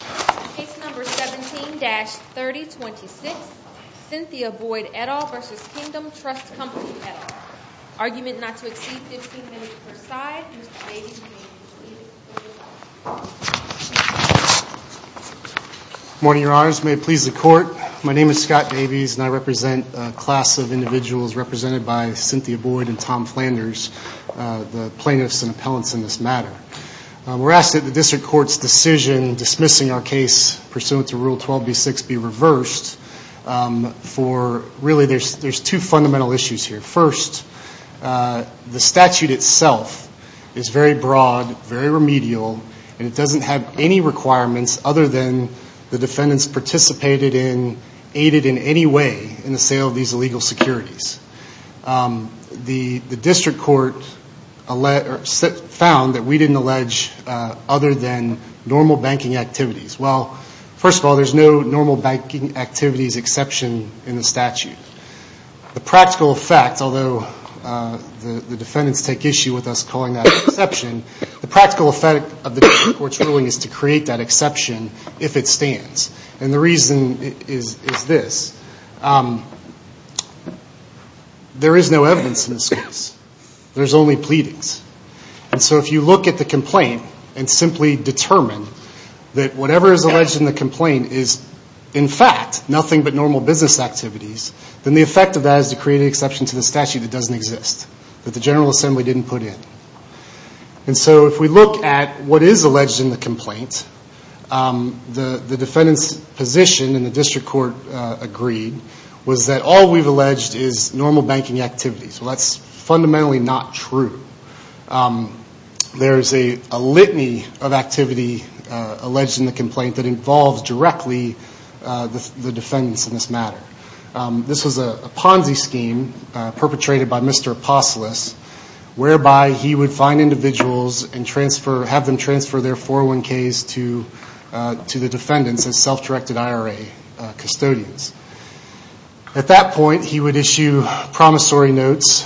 Case number 17-3026, Cynthia Boyd et al. v. Kingdom Trust Company et al. Argument not to exceed 15 minutes per side. Mr. Davies, can you please lead us through the case? Good morning, Your Honors. May it please the Court. My name is Scott Davies, and I represent a class of individuals represented by Cynthia Boyd and Tom Flanders, the plaintiffs and appellants in this matter. We're asked that the District Court's decision dismissing our case pursuant to Rule 12b-6 be reversed for, really, there's two fundamental issues here. First, the statute itself is very broad, very remedial, and it doesn't have any requirements other than the defendants participated in, aided in any way in the sale of these illegal securities. The District Court found that we didn't allege other than normal banking activities. Well, first of all, there's no normal banking activities exception in the statute. The practical effect, although the defendants take issue with us calling that an exception, the practical effect of the District Court's ruling is to create that exception if it stands. And the reason is this. There is no evidence in this case. There's only pleadings. And so if you look at the complaint and simply determine that whatever is alleged in the complaint is, in fact, nothing but normal business activities, then the effect of that is to create an exception to the statute that doesn't exist, that the General Assembly didn't put in. And so if we look at what is alleged in the complaint, the defendant's position, and the District Court agreed, was that all we've alleged is normal banking activities. Well, that's fundamentally not true. There is a litany of activity alleged in the complaint that involves directly the defendants in this matter. This was a Ponzi scheme perpetrated by Mr. Apostolos, whereby he would find individuals and have them transfer their 401Ks to the defendants as self-directed IRA custodians. At that point, he would issue promissory notes.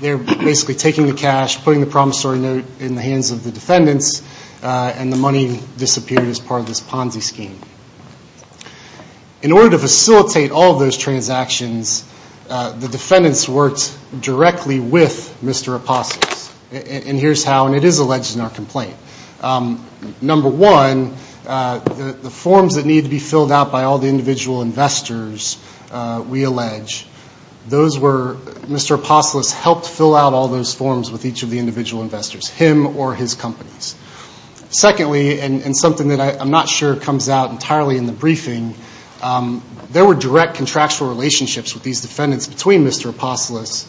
They're basically taking the cash, putting the promissory note in the hands of the defendants, and the money disappeared as part of this Ponzi scheme. In order to facilitate all of those transactions, the defendants worked directly with Mr. Apostolos. And here's how, and it is alleged in our complaint. Number one, the forms that need to be filled out by all the individual investors, we allege, Mr. Apostolos helped fill out all those forms with each of the individual investors, him or his companies. Secondly, and something that I'm not sure comes out entirely in the briefing, there were direct contractual relationships with these defendants between Mr. Apostolos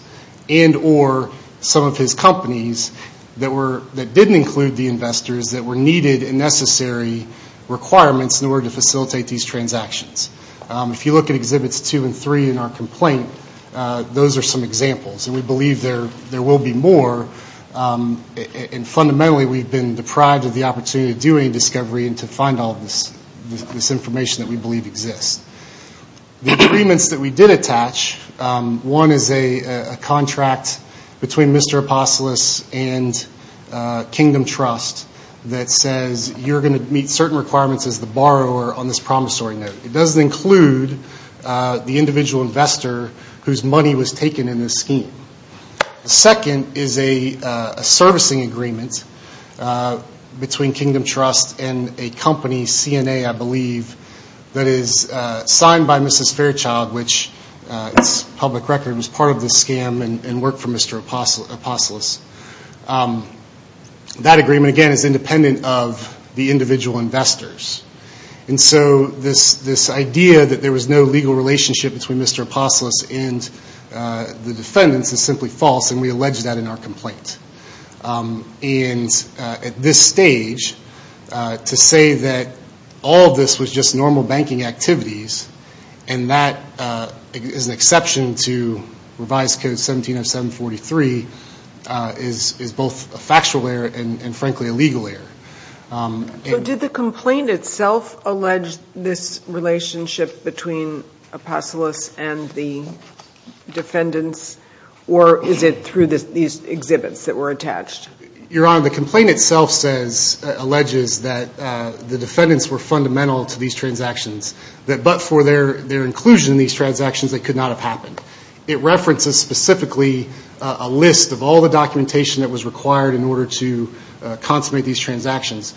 and or some of his companies that didn't include the investors that were needed and necessary requirements in order to facilitate these transactions. If you look at Exhibits 2 and 3 in our complaint, those are some examples. And we believe there will be more. And fundamentally, we've been deprived of the opportunity to do any discovery and to find all of this information that we believe exists. The agreements that we did attach, one is a contract between Mr. Apostolos and Kingdom Trust that says you're going to meet certain requirements as the borrower on this promissory note. It doesn't include the individual investor whose money was taken in this scheme. The second is a servicing agreement between Kingdom Trust and a company, CNA, I believe, that is signed by Mrs. Fairchild, which, it's public record, was part of this scam and worked for Mr. Apostolos. That agreement, again, is independent of the individual investors. And so this idea that there was no legal relationship between Mr. Apostolos and the defendants is simply false, and we allege that in our complaint. And at this stage, to say that all of this was just normal banking activities and that is an exception to revised code 170743 is both a factual error and, frankly, a legal error. So did the complaint itself allege this relationship between Apostolos and the defendants, or is it through these exhibits that were attached? Your Honor, the complaint itself alleges that the defendants were fundamental to these transactions, but for their inclusion in these transactions, it could not have happened. It references specifically a list of all the documentation that was required in order to consummate these transactions.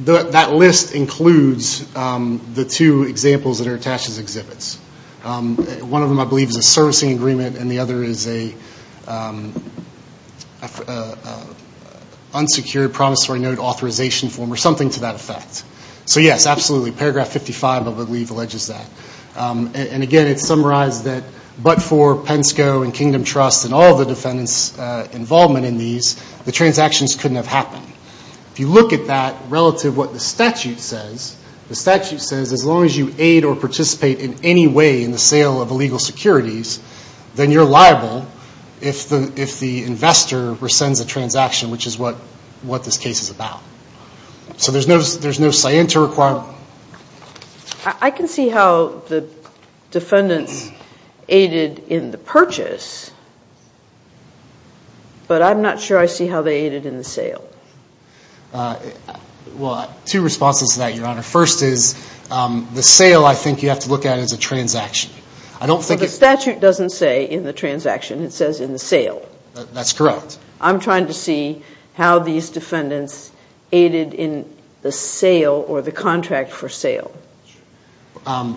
That list includes the two examples that are attached as exhibits. One of them, I believe, is a servicing agreement, and the other is an unsecured promissory note authorization form or something to that effect. So, yes, absolutely. Paragraph 55, I believe, alleges that. And, again, it summarizes that but for Pensco and Kingdom Trust and all of the defendants' involvement in these, the transactions couldn't have happened. If you look at that relative to what the statute says, the statute says as long as you aid or participate in any way in the sale of illegal securities, then you're liable if the investor rescinds a transaction, which is what this case is about. So there's no scienter requirement. I can see how the defendants aided in the purchase, but I'm not sure I see how they aided in the sale. Well, two responses to that, Your Honor. First is the sale, I think you have to look at it as a transaction. I don't think it's – Well, the statute doesn't say in the transaction. It says in the sale. That's correct. I'm trying to see how these defendants aided in the sale or the contract for sale.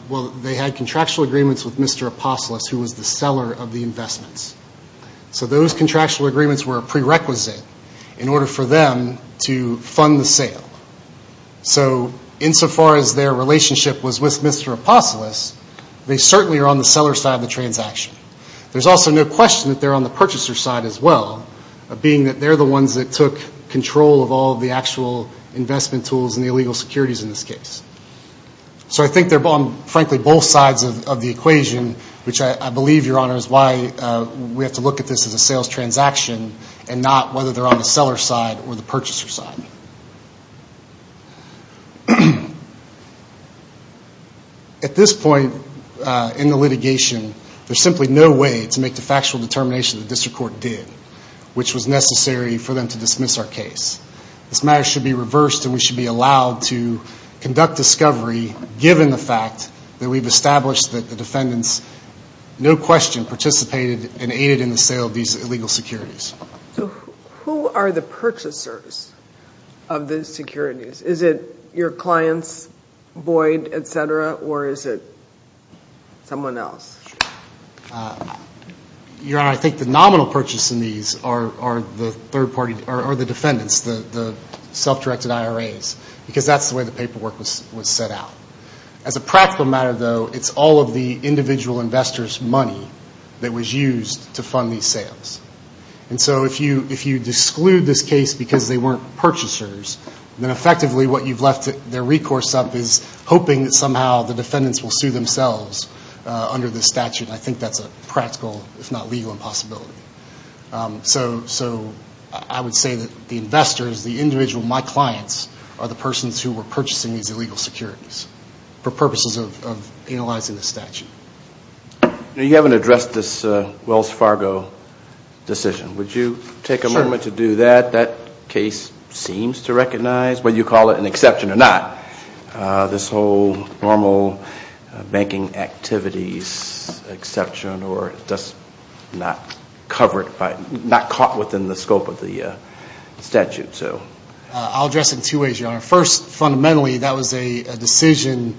Well, they had contractual agreements with Mr. Apostolos, who was the seller of the investments. So those contractual agreements were a prerequisite in order for them to fund the sale. So insofar as their relationship was with Mr. Apostolos, they certainly are on the seller's side of the transaction. There's also no question that they're on the purchaser's side as well, being that they're the ones that took control of all the actual investment tools and the illegal securities in this case. So I think they're on, frankly, both sides of the equation, which I believe, Your Honor, is why we have to look at this as a sales transaction and not whether they're on the seller's side or the purchaser's side. At this point in the litigation, there's simply no way to make the factual determination the district court did, which was necessary for them to dismiss our case. This matter should be reversed and we should be allowed to conduct discovery, given the fact that we've established that the defendants, no question, participated and aided in the sale of these illegal securities. So who are the purchasers of these securities? Is it your clients, Boyd, et cetera, or is it someone else? Your Honor, I think the nominal purchaser in these are the defendants, the self-directed IRAs, because that's the way the paperwork was set out. As a practical matter, though, it's all of the individual investors' money that was used to fund these sales. And so if you exclude this case because they weren't purchasers, then effectively what you've left their recourse up is hoping that somehow the defendants will sue themselves under this statute. I think that's a practical, if not legal, impossibility. So I would say that the investors, the individual, my clients, are the persons who were purchasing these illegal securities for purposes of analyzing the statute. You haven't addressed this Wells Fargo decision. Would you take a moment to do that? That case seems to recognize, whether you call it an exception or not, this whole normal banking activities exception or not caught within the scope of the statute. First, fundamentally, that was a decision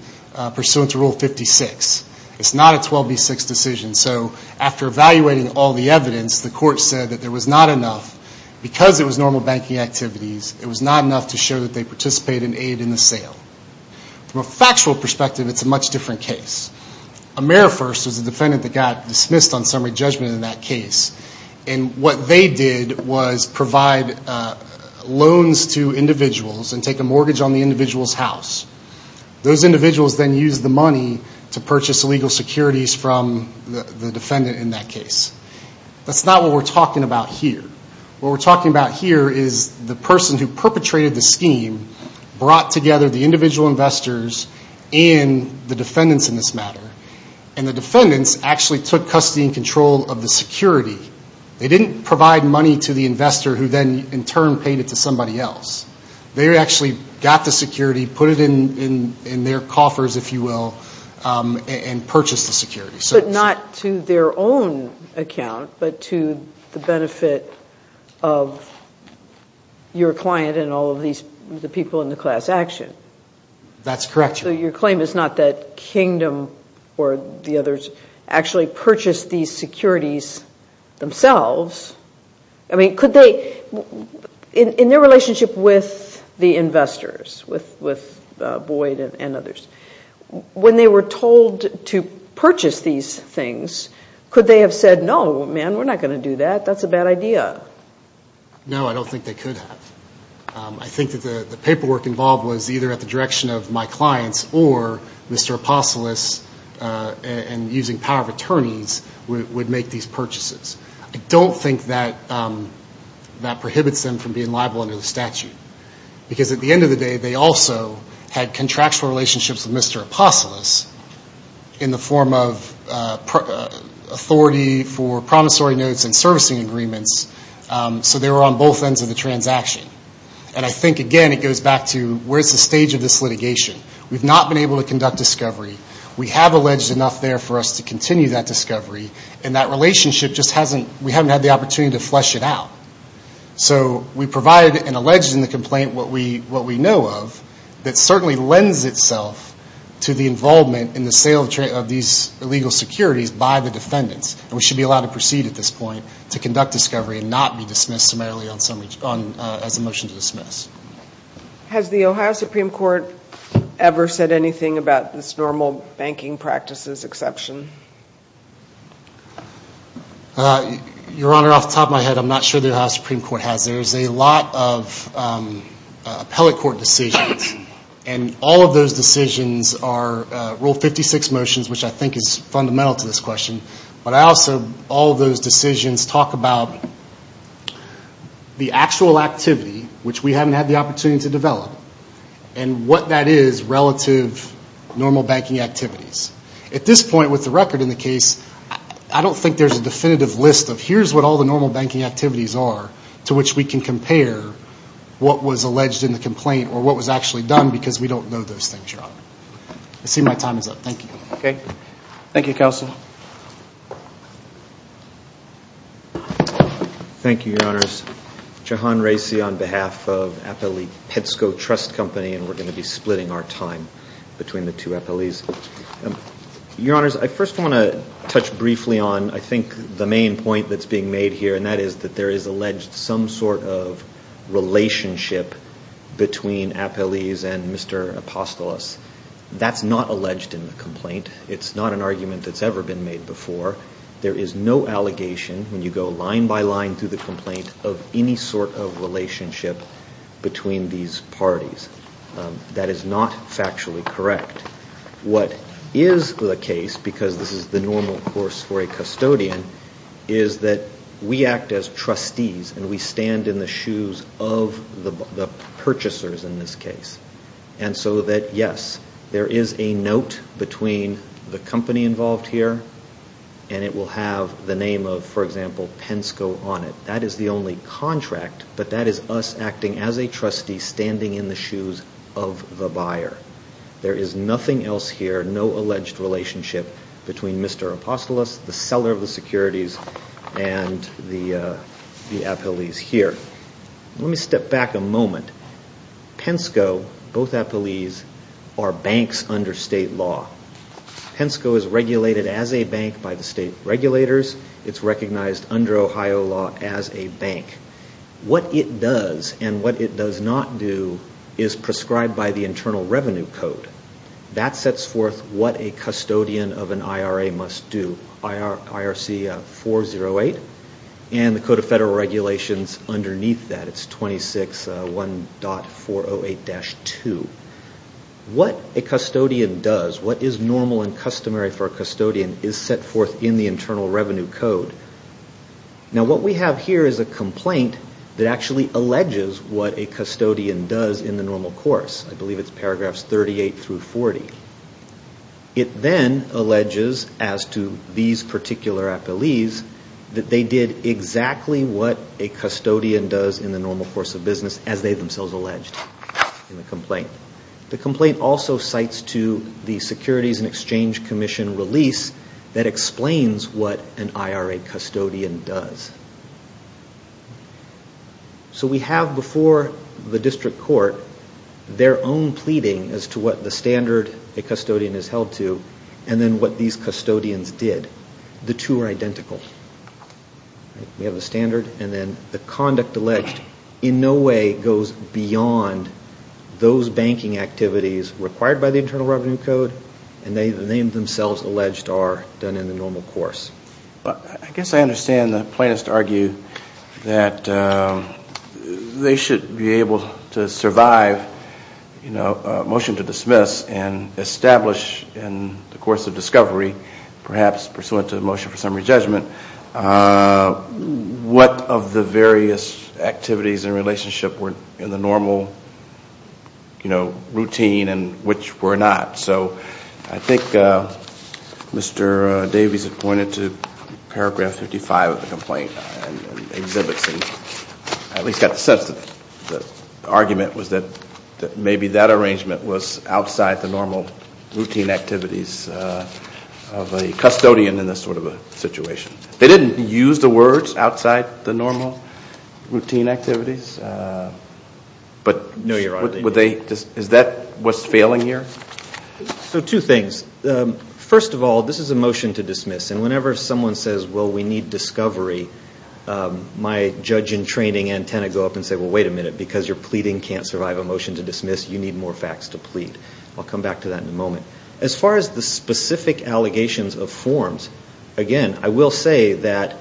pursuant to Rule 56. It's not a 12B6 decision. So after evaluating all the evidence, the court said that there was not enough. Because it was normal banking activities, it was not enough to show that they participated and aided in the sale. From a factual perspective, it's a much different case. Amerifirst was a defendant that got dismissed on summary judgment in that case. And what they did was provide loans to individuals and take a mortgage on the individual's house. Those individuals then used the money to purchase illegal securities from the defendant in that case. That's not what we're talking about here. What we're talking about here is the person who perpetrated the scheme brought together the individual investors and the defendants in this matter. And the defendants actually took custody and control of the security. They didn't provide money to the investor who then, in turn, paid it to somebody else. They actually got the security, put it in their coffers, if you will, and purchased the security. But not to their own account, but to the benefit of your client and all of the people in the class action. That's correct. So your claim is not that Kingdom or the others actually purchased these securities themselves. I mean, could they, in their relationship with the investors, with Boyd and others, when they were told to purchase these things, could they have said, no, man, we're not going to do that. That's a bad idea. No, I don't think they could have. I think that the paperwork involved was either at the direction of my clients or Mr. Apostolos and using power of attorneys would make these purchases. I don't think that prohibits them from being liable under the statute. Because at the end of the day, they also had contractual relationships with Mr. Apostolos in the form of authority for promissory notes and servicing agreements. So they were on both ends of the transaction. And I think, again, it goes back to where's the stage of this litigation. We've not been able to conduct discovery. We have alleged enough there for us to continue that discovery. And that relationship just hasn't, we haven't had the opportunity to flesh it out. So we provide an alleged in the complaint what we know of that certainly lends itself to the involvement in the sale of these illegal securities by the defendants. And we should be allowed to proceed at this point to conduct discovery and not be dismissed summarily as a motion to dismiss. Has the Ohio Supreme Court ever said anything about this normal banking practices exception? Your Honor, off the top of my head, I'm not sure the Ohio Supreme Court has. There's a lot of appellate court decisions. And all of those decisions are Rule 56 motions, which I think is fundamental to this question. But I also, all of those decisions talk about the actual activity, which we haven't had the opportunity to develop, and what that is relative normal banking activities. At this point with the record in the case, I don't think there's a definitive list of here's what all the normal banking activities are to which we can compare what was alleged in the complaint or what was actually done because we don't know those things, Your Honor. I see my time is up. Thank you. Okay. Thank you, Counsel. Thank you, Your Honors. Jahan Raisi on behalf of Appellee Petsco Trust Company, and we're going to be splitting our time between the two appellees. Your Honors, I first want to touch briefly on I think the main point that's being made here, and that is that there is alleged some sort of relationship between appellees and Mr. Apostolos. That's not alleged in the complaint. It's not an argument that's ever been made before. There is no allegation when you go line by line through the complaint of any sort of relationship between these parties. That is not factually correct. What is the case, because this is the normal course for a custodian, is that we act as trustees and we stand in the shoes of the purchasers in this case. And so that, yes, there is a note between the company involved here, and it will have the name of, for example, Pensco on it. That is the only contract, but that is us acting as a trustee standing in the shoes of the buyer. There is nothing else here, no alleged relationship between Mr. Apostolos, the seller of the securities, and the appellees here. Let me step back a moment. Pensco, both appellees, are banks under state law. Pensco is regulated as a bank by the state regulators. It's recognized under Ohio law as a bank. What it does and what it does not do is prescribed by the Internal Revenue Code. That sets forth what a custodian of an IRA must do. IRC 408, and the Code of Federal Regulations underneath that. It's 26.1.408-2. What a custodian does, what is normal and customary for a custodian, is set forth in the Internal Revenue Code. Now what we have here is a complaint that actually alleges what a custodian does in the normal course. I believe it's paragraphs 38 through 40. It then alleges, as to these particular appellees, that they did exactly what a custodian does in the normal course of business, as they themselves alleged in the complaint. The complaint also cites to the Securities and Exchange Commission release that explains what an IRA custodian does. So we have before the district court their own pleading as to what the standard a custodian is held to and then what these custodians did. The two are identical. We have a standard and then the conduct alleged in no way goes beyond those banking activities required by the Internal Revenue Code and they themselves alleged are done in the normal course. I guess I understand the plaintiffs argue that they should be able to survive a motion to dismiss and establish in the course of discovery, perhaps pursuant to the motion for summary judgment, what of the various activities in relationship were in the normal routine and which were not. So I think Mr. Davies had pointed to paragraph 55 of the complaint and exhibits and at least got the sense that the argument was that maybe that arrangement was outside the normal routine activities of a custodian in this sort of a situation. They didn't use the words outside the normal routine activities? No, Your Honor. Is that what's failing here? So two things. First of all, this is a motion to dismiss and whenever someone says, well, we need discovery, my judge in training and tenant go up and say, well, wait a minute, because you're pleading can't survive a motion to dismiss, you need more facts to plead. I'll come back to that in a moment. As far as the specific allegations of forms, again, I will say that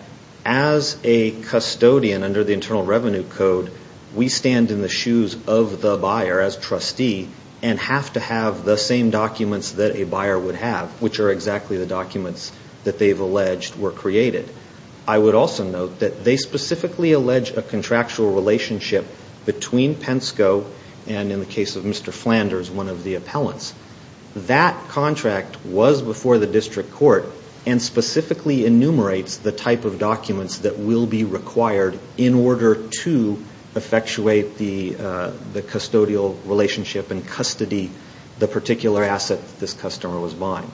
as a custodian under the Internal Revenue Code, we stand in the shoes of the buyer as trustee and have to have the same documents that a buyer would have, which are exactly the documents that they've alleged were created. I would also note that they specifically allege a contractual relationship between Pensco and in the case of Mr. Flanders, one of the appellants. That contract was before the district court and specifically enumerates the type of documents that will be required in order to effectuate the custodial relationship and custody the particular asset this customer was buying.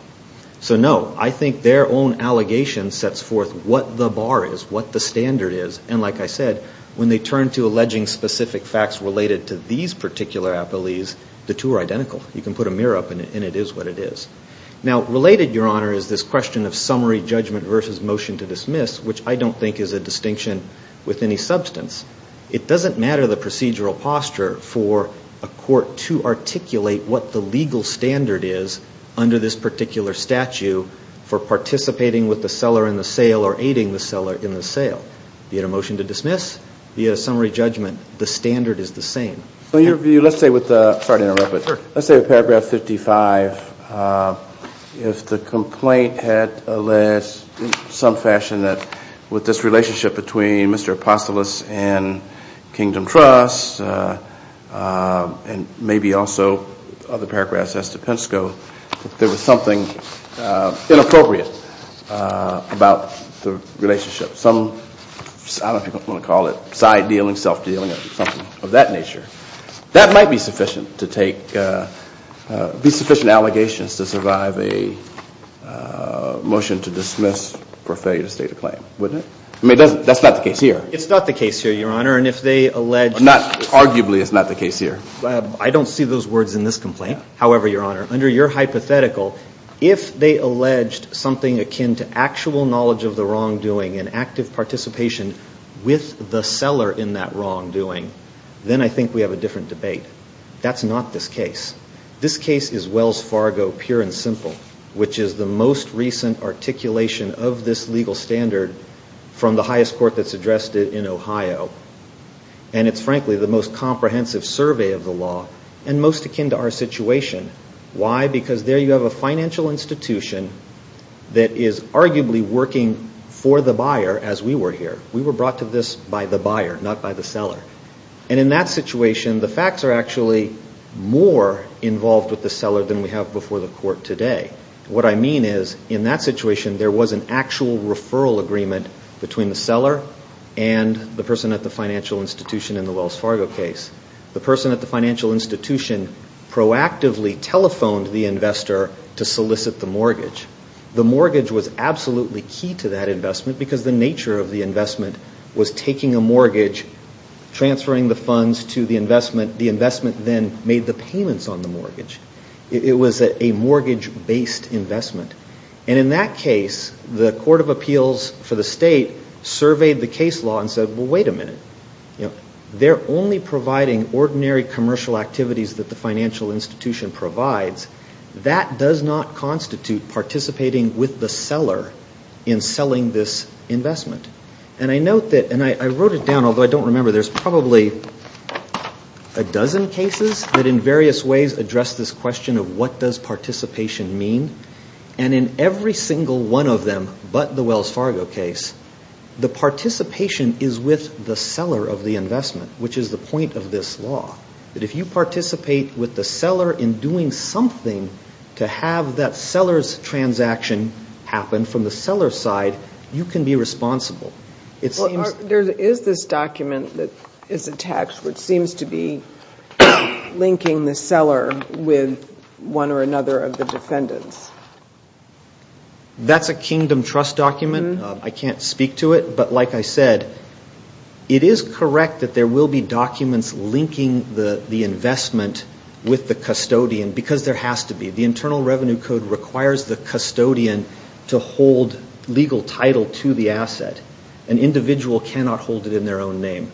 So, no, I think their own allegation sets forth what the bar is, what the standard is, and like I said, when they turn to alleging specific facts related to these particular appellees, the two are identical. You can put a mirror up and it is what it is. Now, related, Your Honor, is this question of summary judgment versus motion to dismiss, which I don't think is a distinction with any substance, it doesn't matter the procedural posture for a court to articulate what the legal standard is under this particular statute for participating with the seller in the sale or aiding the seller in the sale. Be it a motion to dismiss, be it a summary judgment, the standard is the same. In your view, let's say with the, sorry to interrupt, but let's say with paragraph 55, if the complaint had alleged in some fashion that with this relationship between Mr. Apostolos and Kingdom Trust and maybe also other paragraphs as to Penske, that there was something inappropriate about the relationship, some, I don't know if you want to call it side dealing, self-dealing or something of that nature, that might be sufficient to take, be sufficient allegations to survive a motion to dismiss for failure to state a claim, wouldn't it? I mean, that's not the case here. It's not the case here, Your Honor, and if they allege. Arguably, it's not the case here. I don't see those words in this complaint. However, Your Honor, under your hypothetical, if they alleged something akin to actual knowledge of the wrongdoing and active participation with the seller in that wrongdoing, then I think we have a different debate. That's not this case. This case is Wells Fargo pure and simple, which is the most recent articulation of this legal standard from the highest court that's addressed it in Ohio, and it's frankly the most comprehensive survey of the law and most akin to our situation. Why? Because there you have a financial institution that is arguably working for the buyer as we were here. We were brought to this by the buyer, not by the seller. And in that situation, the facts are actually more involved with the seller than we have before the court today. What I mean is, in that situation, there was an actual referral agreement between the seller and the person at the financial institution in the Wells Fargo case. The person at the financial institution proactively telephoned the investor to solicit the mortgage. The mortgage was absolutely key to that investment because the nature of the investment was taking a mortgage, transferring the funds to the investment. The investment then made the payments on the mortgage. It was a mortgage-based investment. And in that case, the court of appeals for the state surveyed the case law and said, well, wait a minute. They're only providing ordinary commercial activities that the financial institution provides. That does not constitute participating with the seller in selling this investment. And I note that, and I wrote it down, although I don't remember, there's probably a dozen cases that in various ways address this question of what does participation mean. And in every single one of them but the Wells Fargo case, the participation is with the seller of the investment, which is the point of this law, that if you participate with the seller in doing something to have that seller's transaction happen from the seller's side, you can be responsible. There is this document that is attached which seems to be linking the seller with one or another of the defendants. That's a kingdom trust document. I can't speak to it. But like I said, it is correct that there will be documents linking the investment with the custodian because there has to be. The Internal Revenue Code requires the custodian to hold legal title to the asset. An individual cannot hold it in their own name.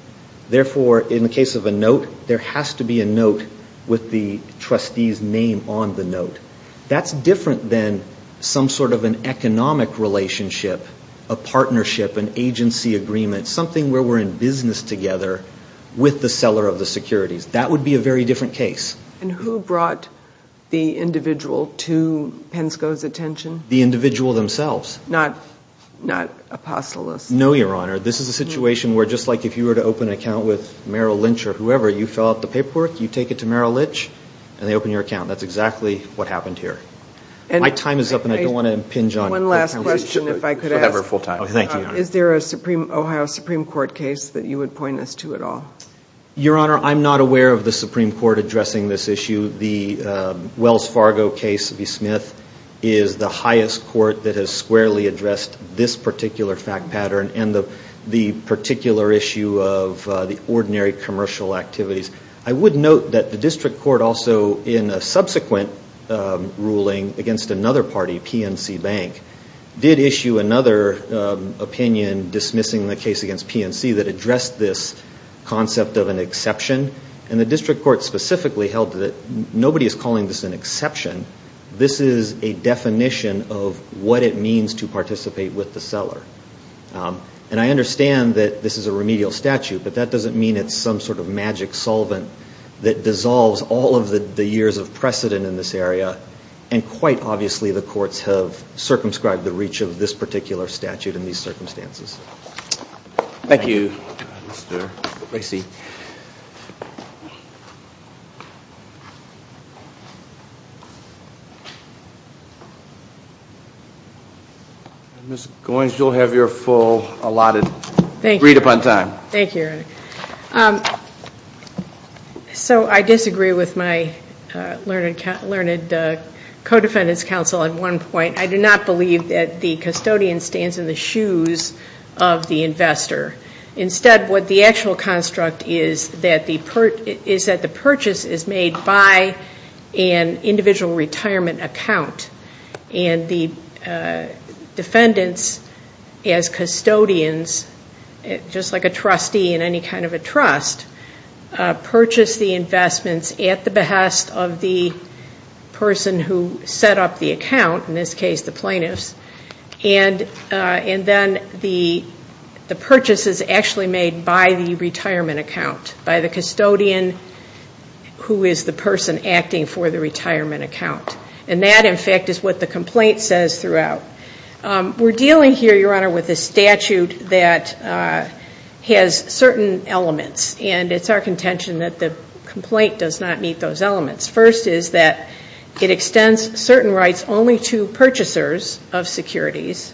Therefore, in the case of a note, there has to be a note with the trustee's name on the note. That's different than some sort of an economic relationship, a partnership, an agency agreement, something where we're in business together with the seller of the securities. That would be a very different case. And who brought the individual to Pensco's attention? The individual themselves. Not Apostolos? No, Your Honor. This is a situation where just like if you were to open an account with Merrill Lynch or whoever, you fill out the paperwork, you take it to Merrill Lynch, and they open your account. That's exactly what happened here. My time is up, and I don't want to impinge on it. One last question, if I could ask. Thank you, Your Honor. Is there a Ohio Supreme Court case that you would point us to at all? Your Honor, I'm not aware of the Supreme Court addressing this issue. The Wells Fargo case v. Smith is the highest court that has squarely addressed this particular fact pattern and the particular issue of the ordinary commercial activities. I would note that the district court also in a subsequent ruling against another party, PNC Bank, did issue another opinion dismissing the case against PNC that addressed this concept of an exception. And the district court specifically held that nobody is calling this an exception. This is a definition of what it means to participate with the seller. And I understand that this is a remedial statute, but that doesn't mean it's some sort of magic solvent that dissolves all of the years of precedent in this area, and quite obviously the courts have circumscribed the reach of this particular statute in these circumstances. Thank you, Mr. Bracey. Thank you. Ms. Goins, you'll have your full allotted read upon time. Thank you, Your Honor. So I disagree with my learned co-defendant's counsel at one point. I do not believe that the custodian stands in the shoes of the investor. Instead, what the actual construct is that the purchase is made by an individual retirement account. And the defendants, as custodians, just like a trustee in any kind of a trust, purchase the investments at the behest of the person who set up the account, in this case the plaintiffs. And then the purchase is actually made by the retirement account, by the custodian who is the person acting for the retirement account. And that, in fact, is what the complaint says throughout. We're dealing here, Your Honor, with a statute that has certain elements, and it's our contention that the complaint does not meet those elements. First is that it extends certain rights only to purchasers of securities.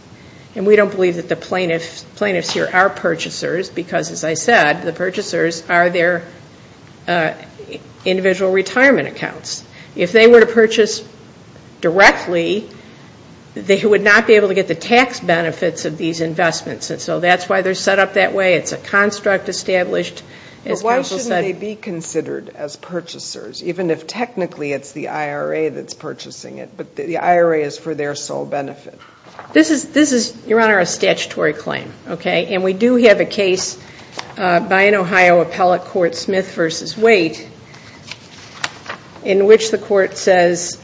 And we don't believe that the plaintiffs here are purchasers, because, as I said, the purchasers are their individual retirement accounts. If they were to purchase directly, they would not be able to get the tax benefits of these investments. And so that's why they're set up that way. It's a construct established, as people said. How can they be considered as purchasers, even if technically it's the IRA that's purchasing it, but the IRA is for their sole benefit? This is, Your Honor, a statutory claim, okay? And we do have a case by an Ohio appellate court, Smith v. Waite, in which the court says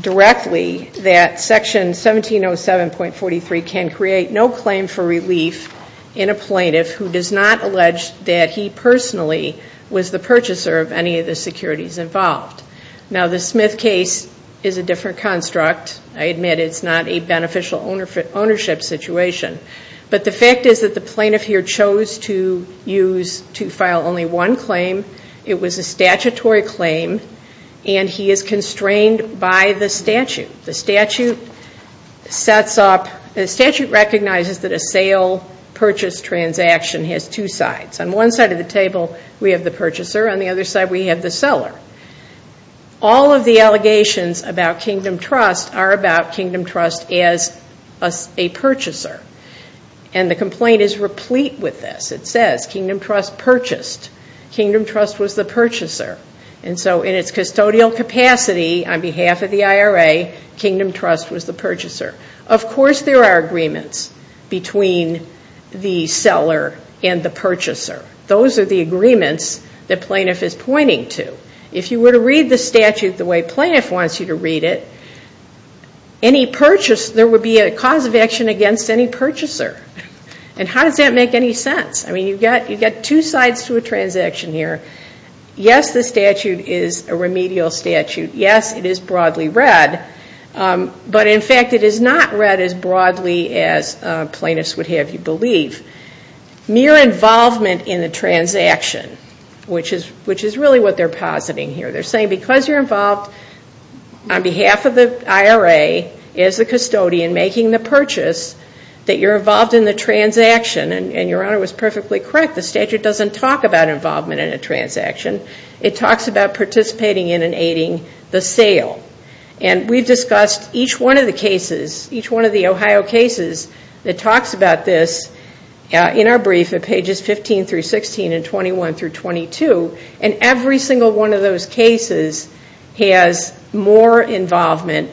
directly that Section 1707.43 can create no claim for relief in a plaintiff who does not allege that he personally was the purchaser of any of the securities involved. Now, the Smith case is a different construct. I admit it's not a beneficial ownership situation. But the fact is that the plaintiff here chose to file only one claim. It was a statutory claim, and he is constrained by the statute. The statute recognizes that a sale-purchase transaction has two sides. On one side of the table, we have the purchaser. On the other side, we have the seller. All of the allegations about Kingdom Trust are about Kingdom Trust as a purchaser. And the complaint is replete with this. It says, Kingdom Trust purchased. Kingdom Trust was the purchaser. And so in its custodial capacity, on behalf of the IRA, Kingdom Trust was the purchaser. Of course there are agreements between the seller and the purchaser. Those are the agreements that plaintiff is pointing to. If you were to read the statute the way plaintiff wants you to read it, there would be a cause of action against any purchaser. And how does that make any sense? I mean, you've got two sides to a transaction here. Yes, the statute is a remedial statute. Yes, it is broadly read. But, in fact, it is not read as broadly as plaintiffs would have you believe. Mere involvement in the transaction, which is really what they're positing here. They're saying because you're involved on behalf of the IRA as the custodian making the purchase, that you're involved in the transaction. And Your Honor was perfectly correct. The statute doesn't talk about involvement in a transaction. It talks about participating in and aiding the sale. And we've discussed each one of the cases, each one of the Ohio cases, that talks about this in our brief at pages 15 through 16 and 21 through 22. And every single one of those cases has more involvement,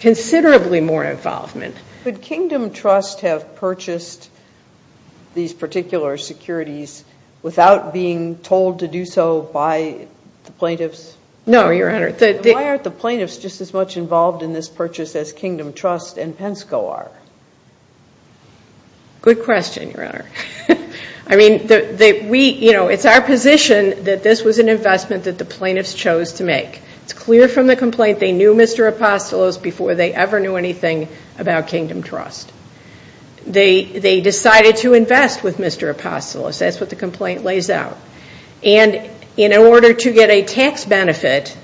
considerably more involvement. Could Kingdom Trust have purchased these particular securities without being told to do so by the plaintiffs? No, Your Honor. Why aren't the plaintiffs just as much involved in this purchase as Kingdom Trust and Pensco are? Good question, Your Honor. I mean, it's our position that this was an investment that the plaintiffs chose to make. It's clear from the complaint they knew Mr. Apostolos before they ever knew anything about Kingdom Trust. They decided to invest with Mr. Apostolos. That's what the complaint lays out. And in order to get a tax benefit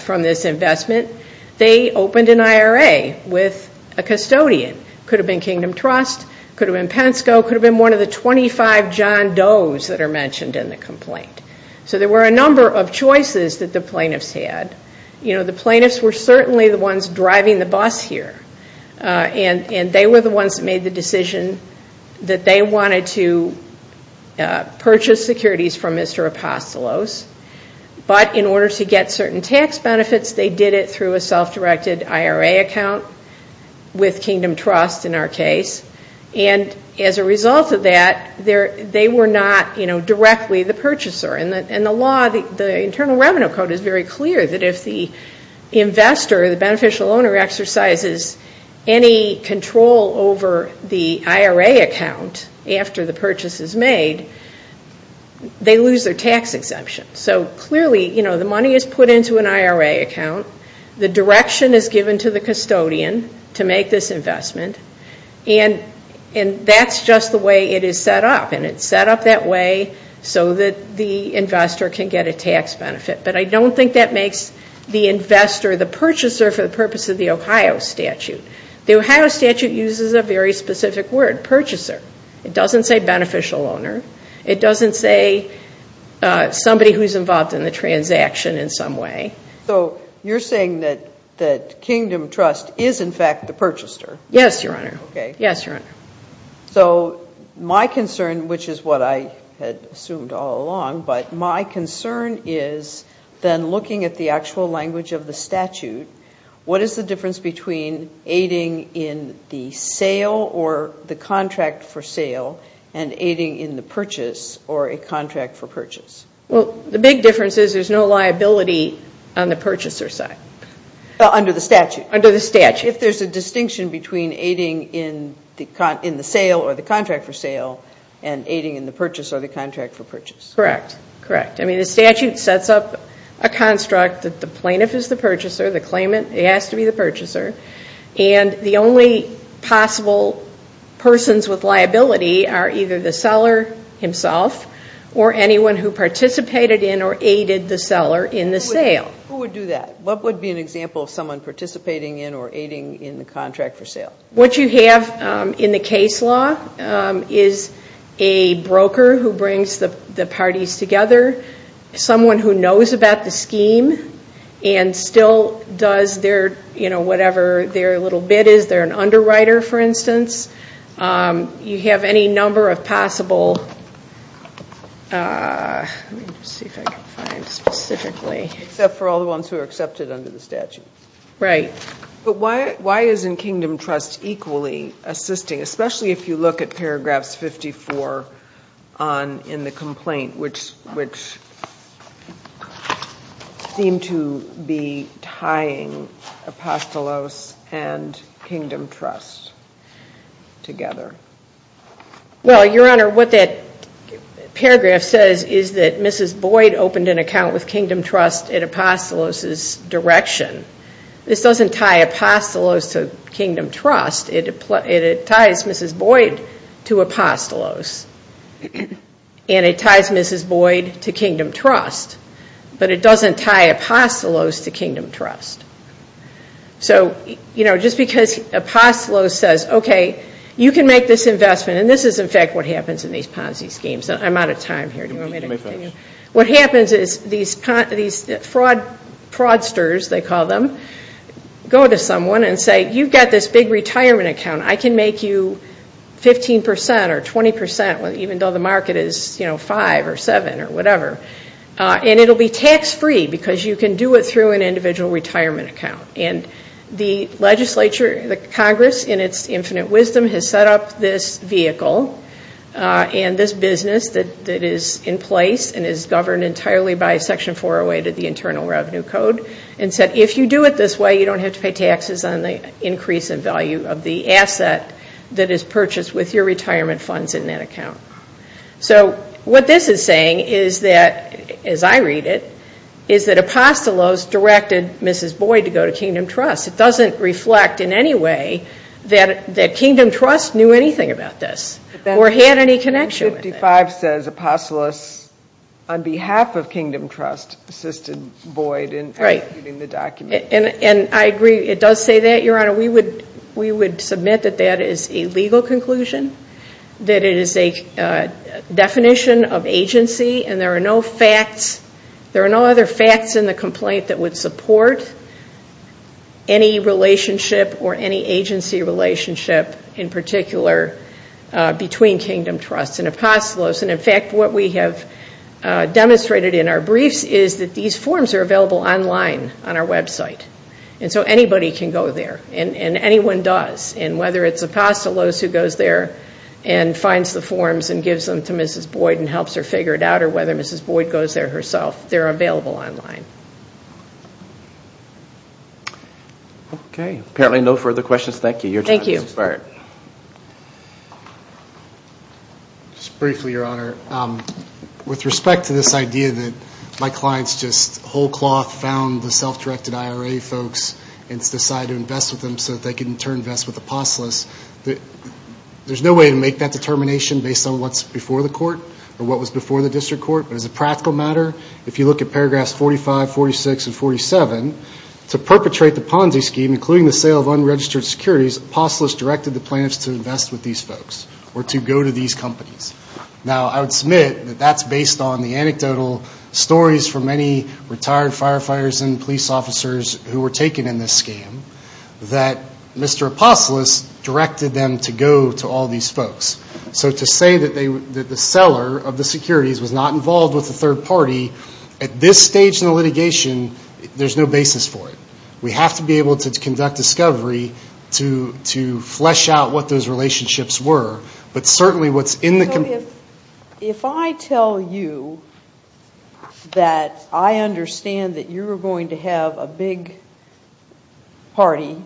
from this investment, they opened an IRA with a custodian. Could have been Kingdom Trust, could have been Pensco, could have been one of the 25 John Doe's that are mentioned in the complaint. So there were a number of choices that the plaintiffs had. You know, the plaintiffs were certainly the ones driving the bus here. And they were the ones that made the decision that they wanted to purchase securities from Mr. Apostolos. But in order to get certain tax benefits, they did it through a self-directed IRA account with Kingdom Trust in our case. And as a result of that, they were not directly the purchaser. And the law, the Internal Revenue Code is very clear that if the investor, the beneficial owner, exercises any control over the IRA account after the purchase is made, they lose their tax exemption. So clearly, you know, the money is put into an IRA account. The direction is given to the custodian to make this investment. And that's just the way it is set up. And it's set up that way so that the investor can get a tax benefit. But I don't think that makes the investor the purchaser for the purpose of the Ohio statute. The Ohio statute uses a very specific word, purchaser. It doesn't say beneficial owner. It doesn't say somebody who's involved in the transaction in some way. So you're saying that Kingdom Trust is, in fact, the purchaser? Yes, Your Honor. Okay. Yes, Your Honor. So my concern, which is what I had assumed all along, but my concern is then looking at the actual language of the statute, what is the difference between aiding in the sale or the contract for sale and aiding in the purchase or a contract for purchase? Well, the big difference is there's no liability on the purchaser side. Under the statute? Under the statute. If there's a distinction between aiding in the sale or the contract for sale and aiding in the purchase or the contract for purchase. Correct. Correct. I mean, the statute sets up a construct that the plaintiff is the purchaser, the claimant has to be the purchaser, and the only possible persons with liability are either the seller himself or anyone who participated in or aided the seller in the sale. Who would do that? What would be an example of someone participating in or aiding in the contract for sale? What you have in the case law is a broker who brings the parties together, someone who knows about the scheme and still does their, you know, whatever their little bit is. They're an underwriter, for instance. You have any number of possible, let me see if I can find specifically. Except for all the ones who are accepted under the statute. Right. But why isn't Kingdom Trust equally assisting, especially if you look at paragraphs 54 in the complaint, which seem to be tying Apostolos and Kingdom Trust together? Well, Your Honor, what that paragraph says is that Mrs. Boyd opened an account with Kingdom Trust at Apostolos' direction. This doesn't tie Apostolos to Kingdom Trust. It ties Mrs. Boyd to Apostolos. And it ties Mrs. Boyd to Kingdom Trust. But it doesn't tie Apostolos to Kingdom Trust. So, you know, just because Apostolos says, okay, you can make this investment, and this is, in fact, what happens in these Ponzi schemes. I'm out of time here. Do you want me to continue? You may finish. What happens is these fraudsters, they call them, go to someone and say, you've got this big retirement account. I can make you 15% or 20% even though the market is, you know, 5% or 7% or whatever. And it will be tax-free because you can do it through an individual retirement account. And the legislature, the Congress, in its infinite wisdom, has set up this vehicle and this business that is in place and is governed entirely by Section 408 of the Internal Revenue Code and said if you do it this way, you don't have to pay taxes on the increase in value of the asset that is purchased with your retirement funds in that account. So what this is saying is that, as I read it, is that Apostolos directed Mrs. Boyd to go to Kingdom Trust. It doesn't reflect in any way that Kingdom Trust knew anything about this or had any connection with it. Section 55 says Apostolos, on behalf of Kingdom Trust, assisted Boyd in executing the document. And I agree. It does say that, Your Honor. We would submit that that is a legal conclusion, that it is a definition of agency, and there are no facts, and that's in the complaint that would support any relationship or any agency relationship in particular between Kingdom Trust and Apostolos. And, in fact, what we have demonstrated in our briefs is that these forms are available online on our website. And so anybody can go there, and anyone does. And whether it's Apostolos who goes there and finds the forms and gives them to Mrs. Boyd and helps her figure it out or whether Mrs. Boyd goes there herself, they're available online. Okay. Apparently no further questions. Thank you. Your turn, Mr. Byrd. Thank you. Just briefly, Your Honor. With respect to this idea that my clients just whole cloth found the self-directed IRA folks and decided to invest with them so that they could in turn invest with Apostolos, there's no way to make that determination based on what's before the court or what was before the district court. But as a practical matter, if you look at paragraphs 45, 46, and 47, to perpetrate the Ponzi scheme, including the sale of unregistered securities, Apostolos directed the plaintiffs to invest with these folks or to go to these companies. Now, I would submit that that's based on the anecdotal stories from many retired firefighters and police officers who were taken in this scheme that Mr. Apostolos directed them to go to all these folks. So to say that the seller of the securities was not involved with the third party, at this stage in the litigation, there's no basis for it. We have to be able to conduct discovery to flesh out what those relationships were. But certainly what's in the company. So if I tell you that I understand that you're going to have a big party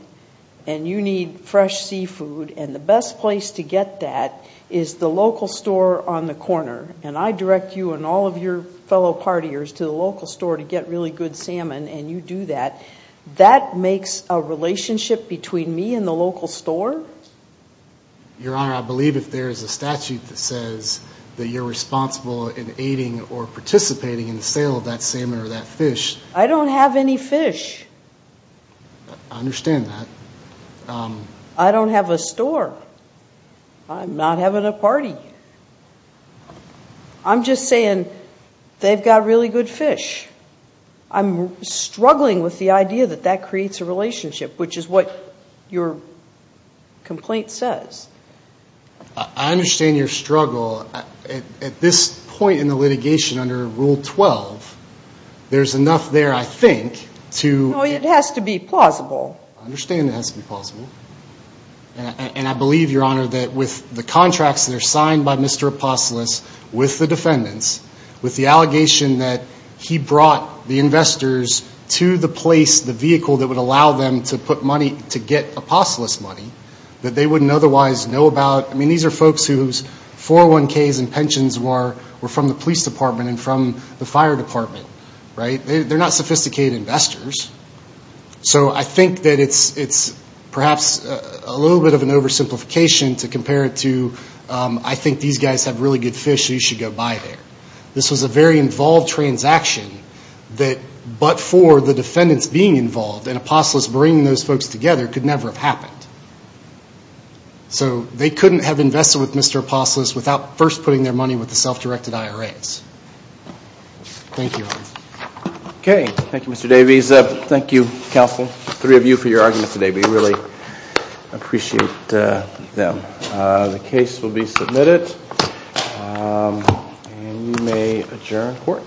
and you need fresh seafood and the best place to get that is the local store on the corner, and I direct you and all of your fellow partiers to the local store to get really good salmon and you do that, that makes a relationship between me and the local store? Your Honor, I believe if there is a statute that says that you're responsible in aiding or participating in the sale of that salmon or that fish. I don't have any fish. I understand that. I don't have a store. I'm not having a party. I'm just saying they've got really good fish. I'm struggling with the idea that that creates a relationship, which is what your complaint says. I understand your struggle. At this point in the litigation under Rule 12, there's enough there, I think, to No, it has to be plausible. I understand it has to be plausible. And I believe, Your Honor, that with the contracts that are signed by Mr. Apostolos with the defendants, with the allegation that he brought the investors to the place, the vehicle that would allow them to put money, to get Apostolos' money, that they wouldn't otherwise know about. I mean, these are folks whose 401ks and pensions were from the police department and from the fire department, right? They're not sophisticated investors. So I think that it's perhaps a little bit of an oversimplification to compare it to, I think these guys have really good fish. You should go buy there. This was a very involved transaction that but for the defendants being involved and Apostolos bringing those folks together could never have happened. So they couldn't have invested with Mr. Apostolos without first putting their money with the self-directed IRAs. Thank you, Your Honor. Okay. Thank you, Mr. Davies. Thank you, counsel, the three of you for your arguments today. We really appreciate them. The case will be submitted. And you may adjourn court.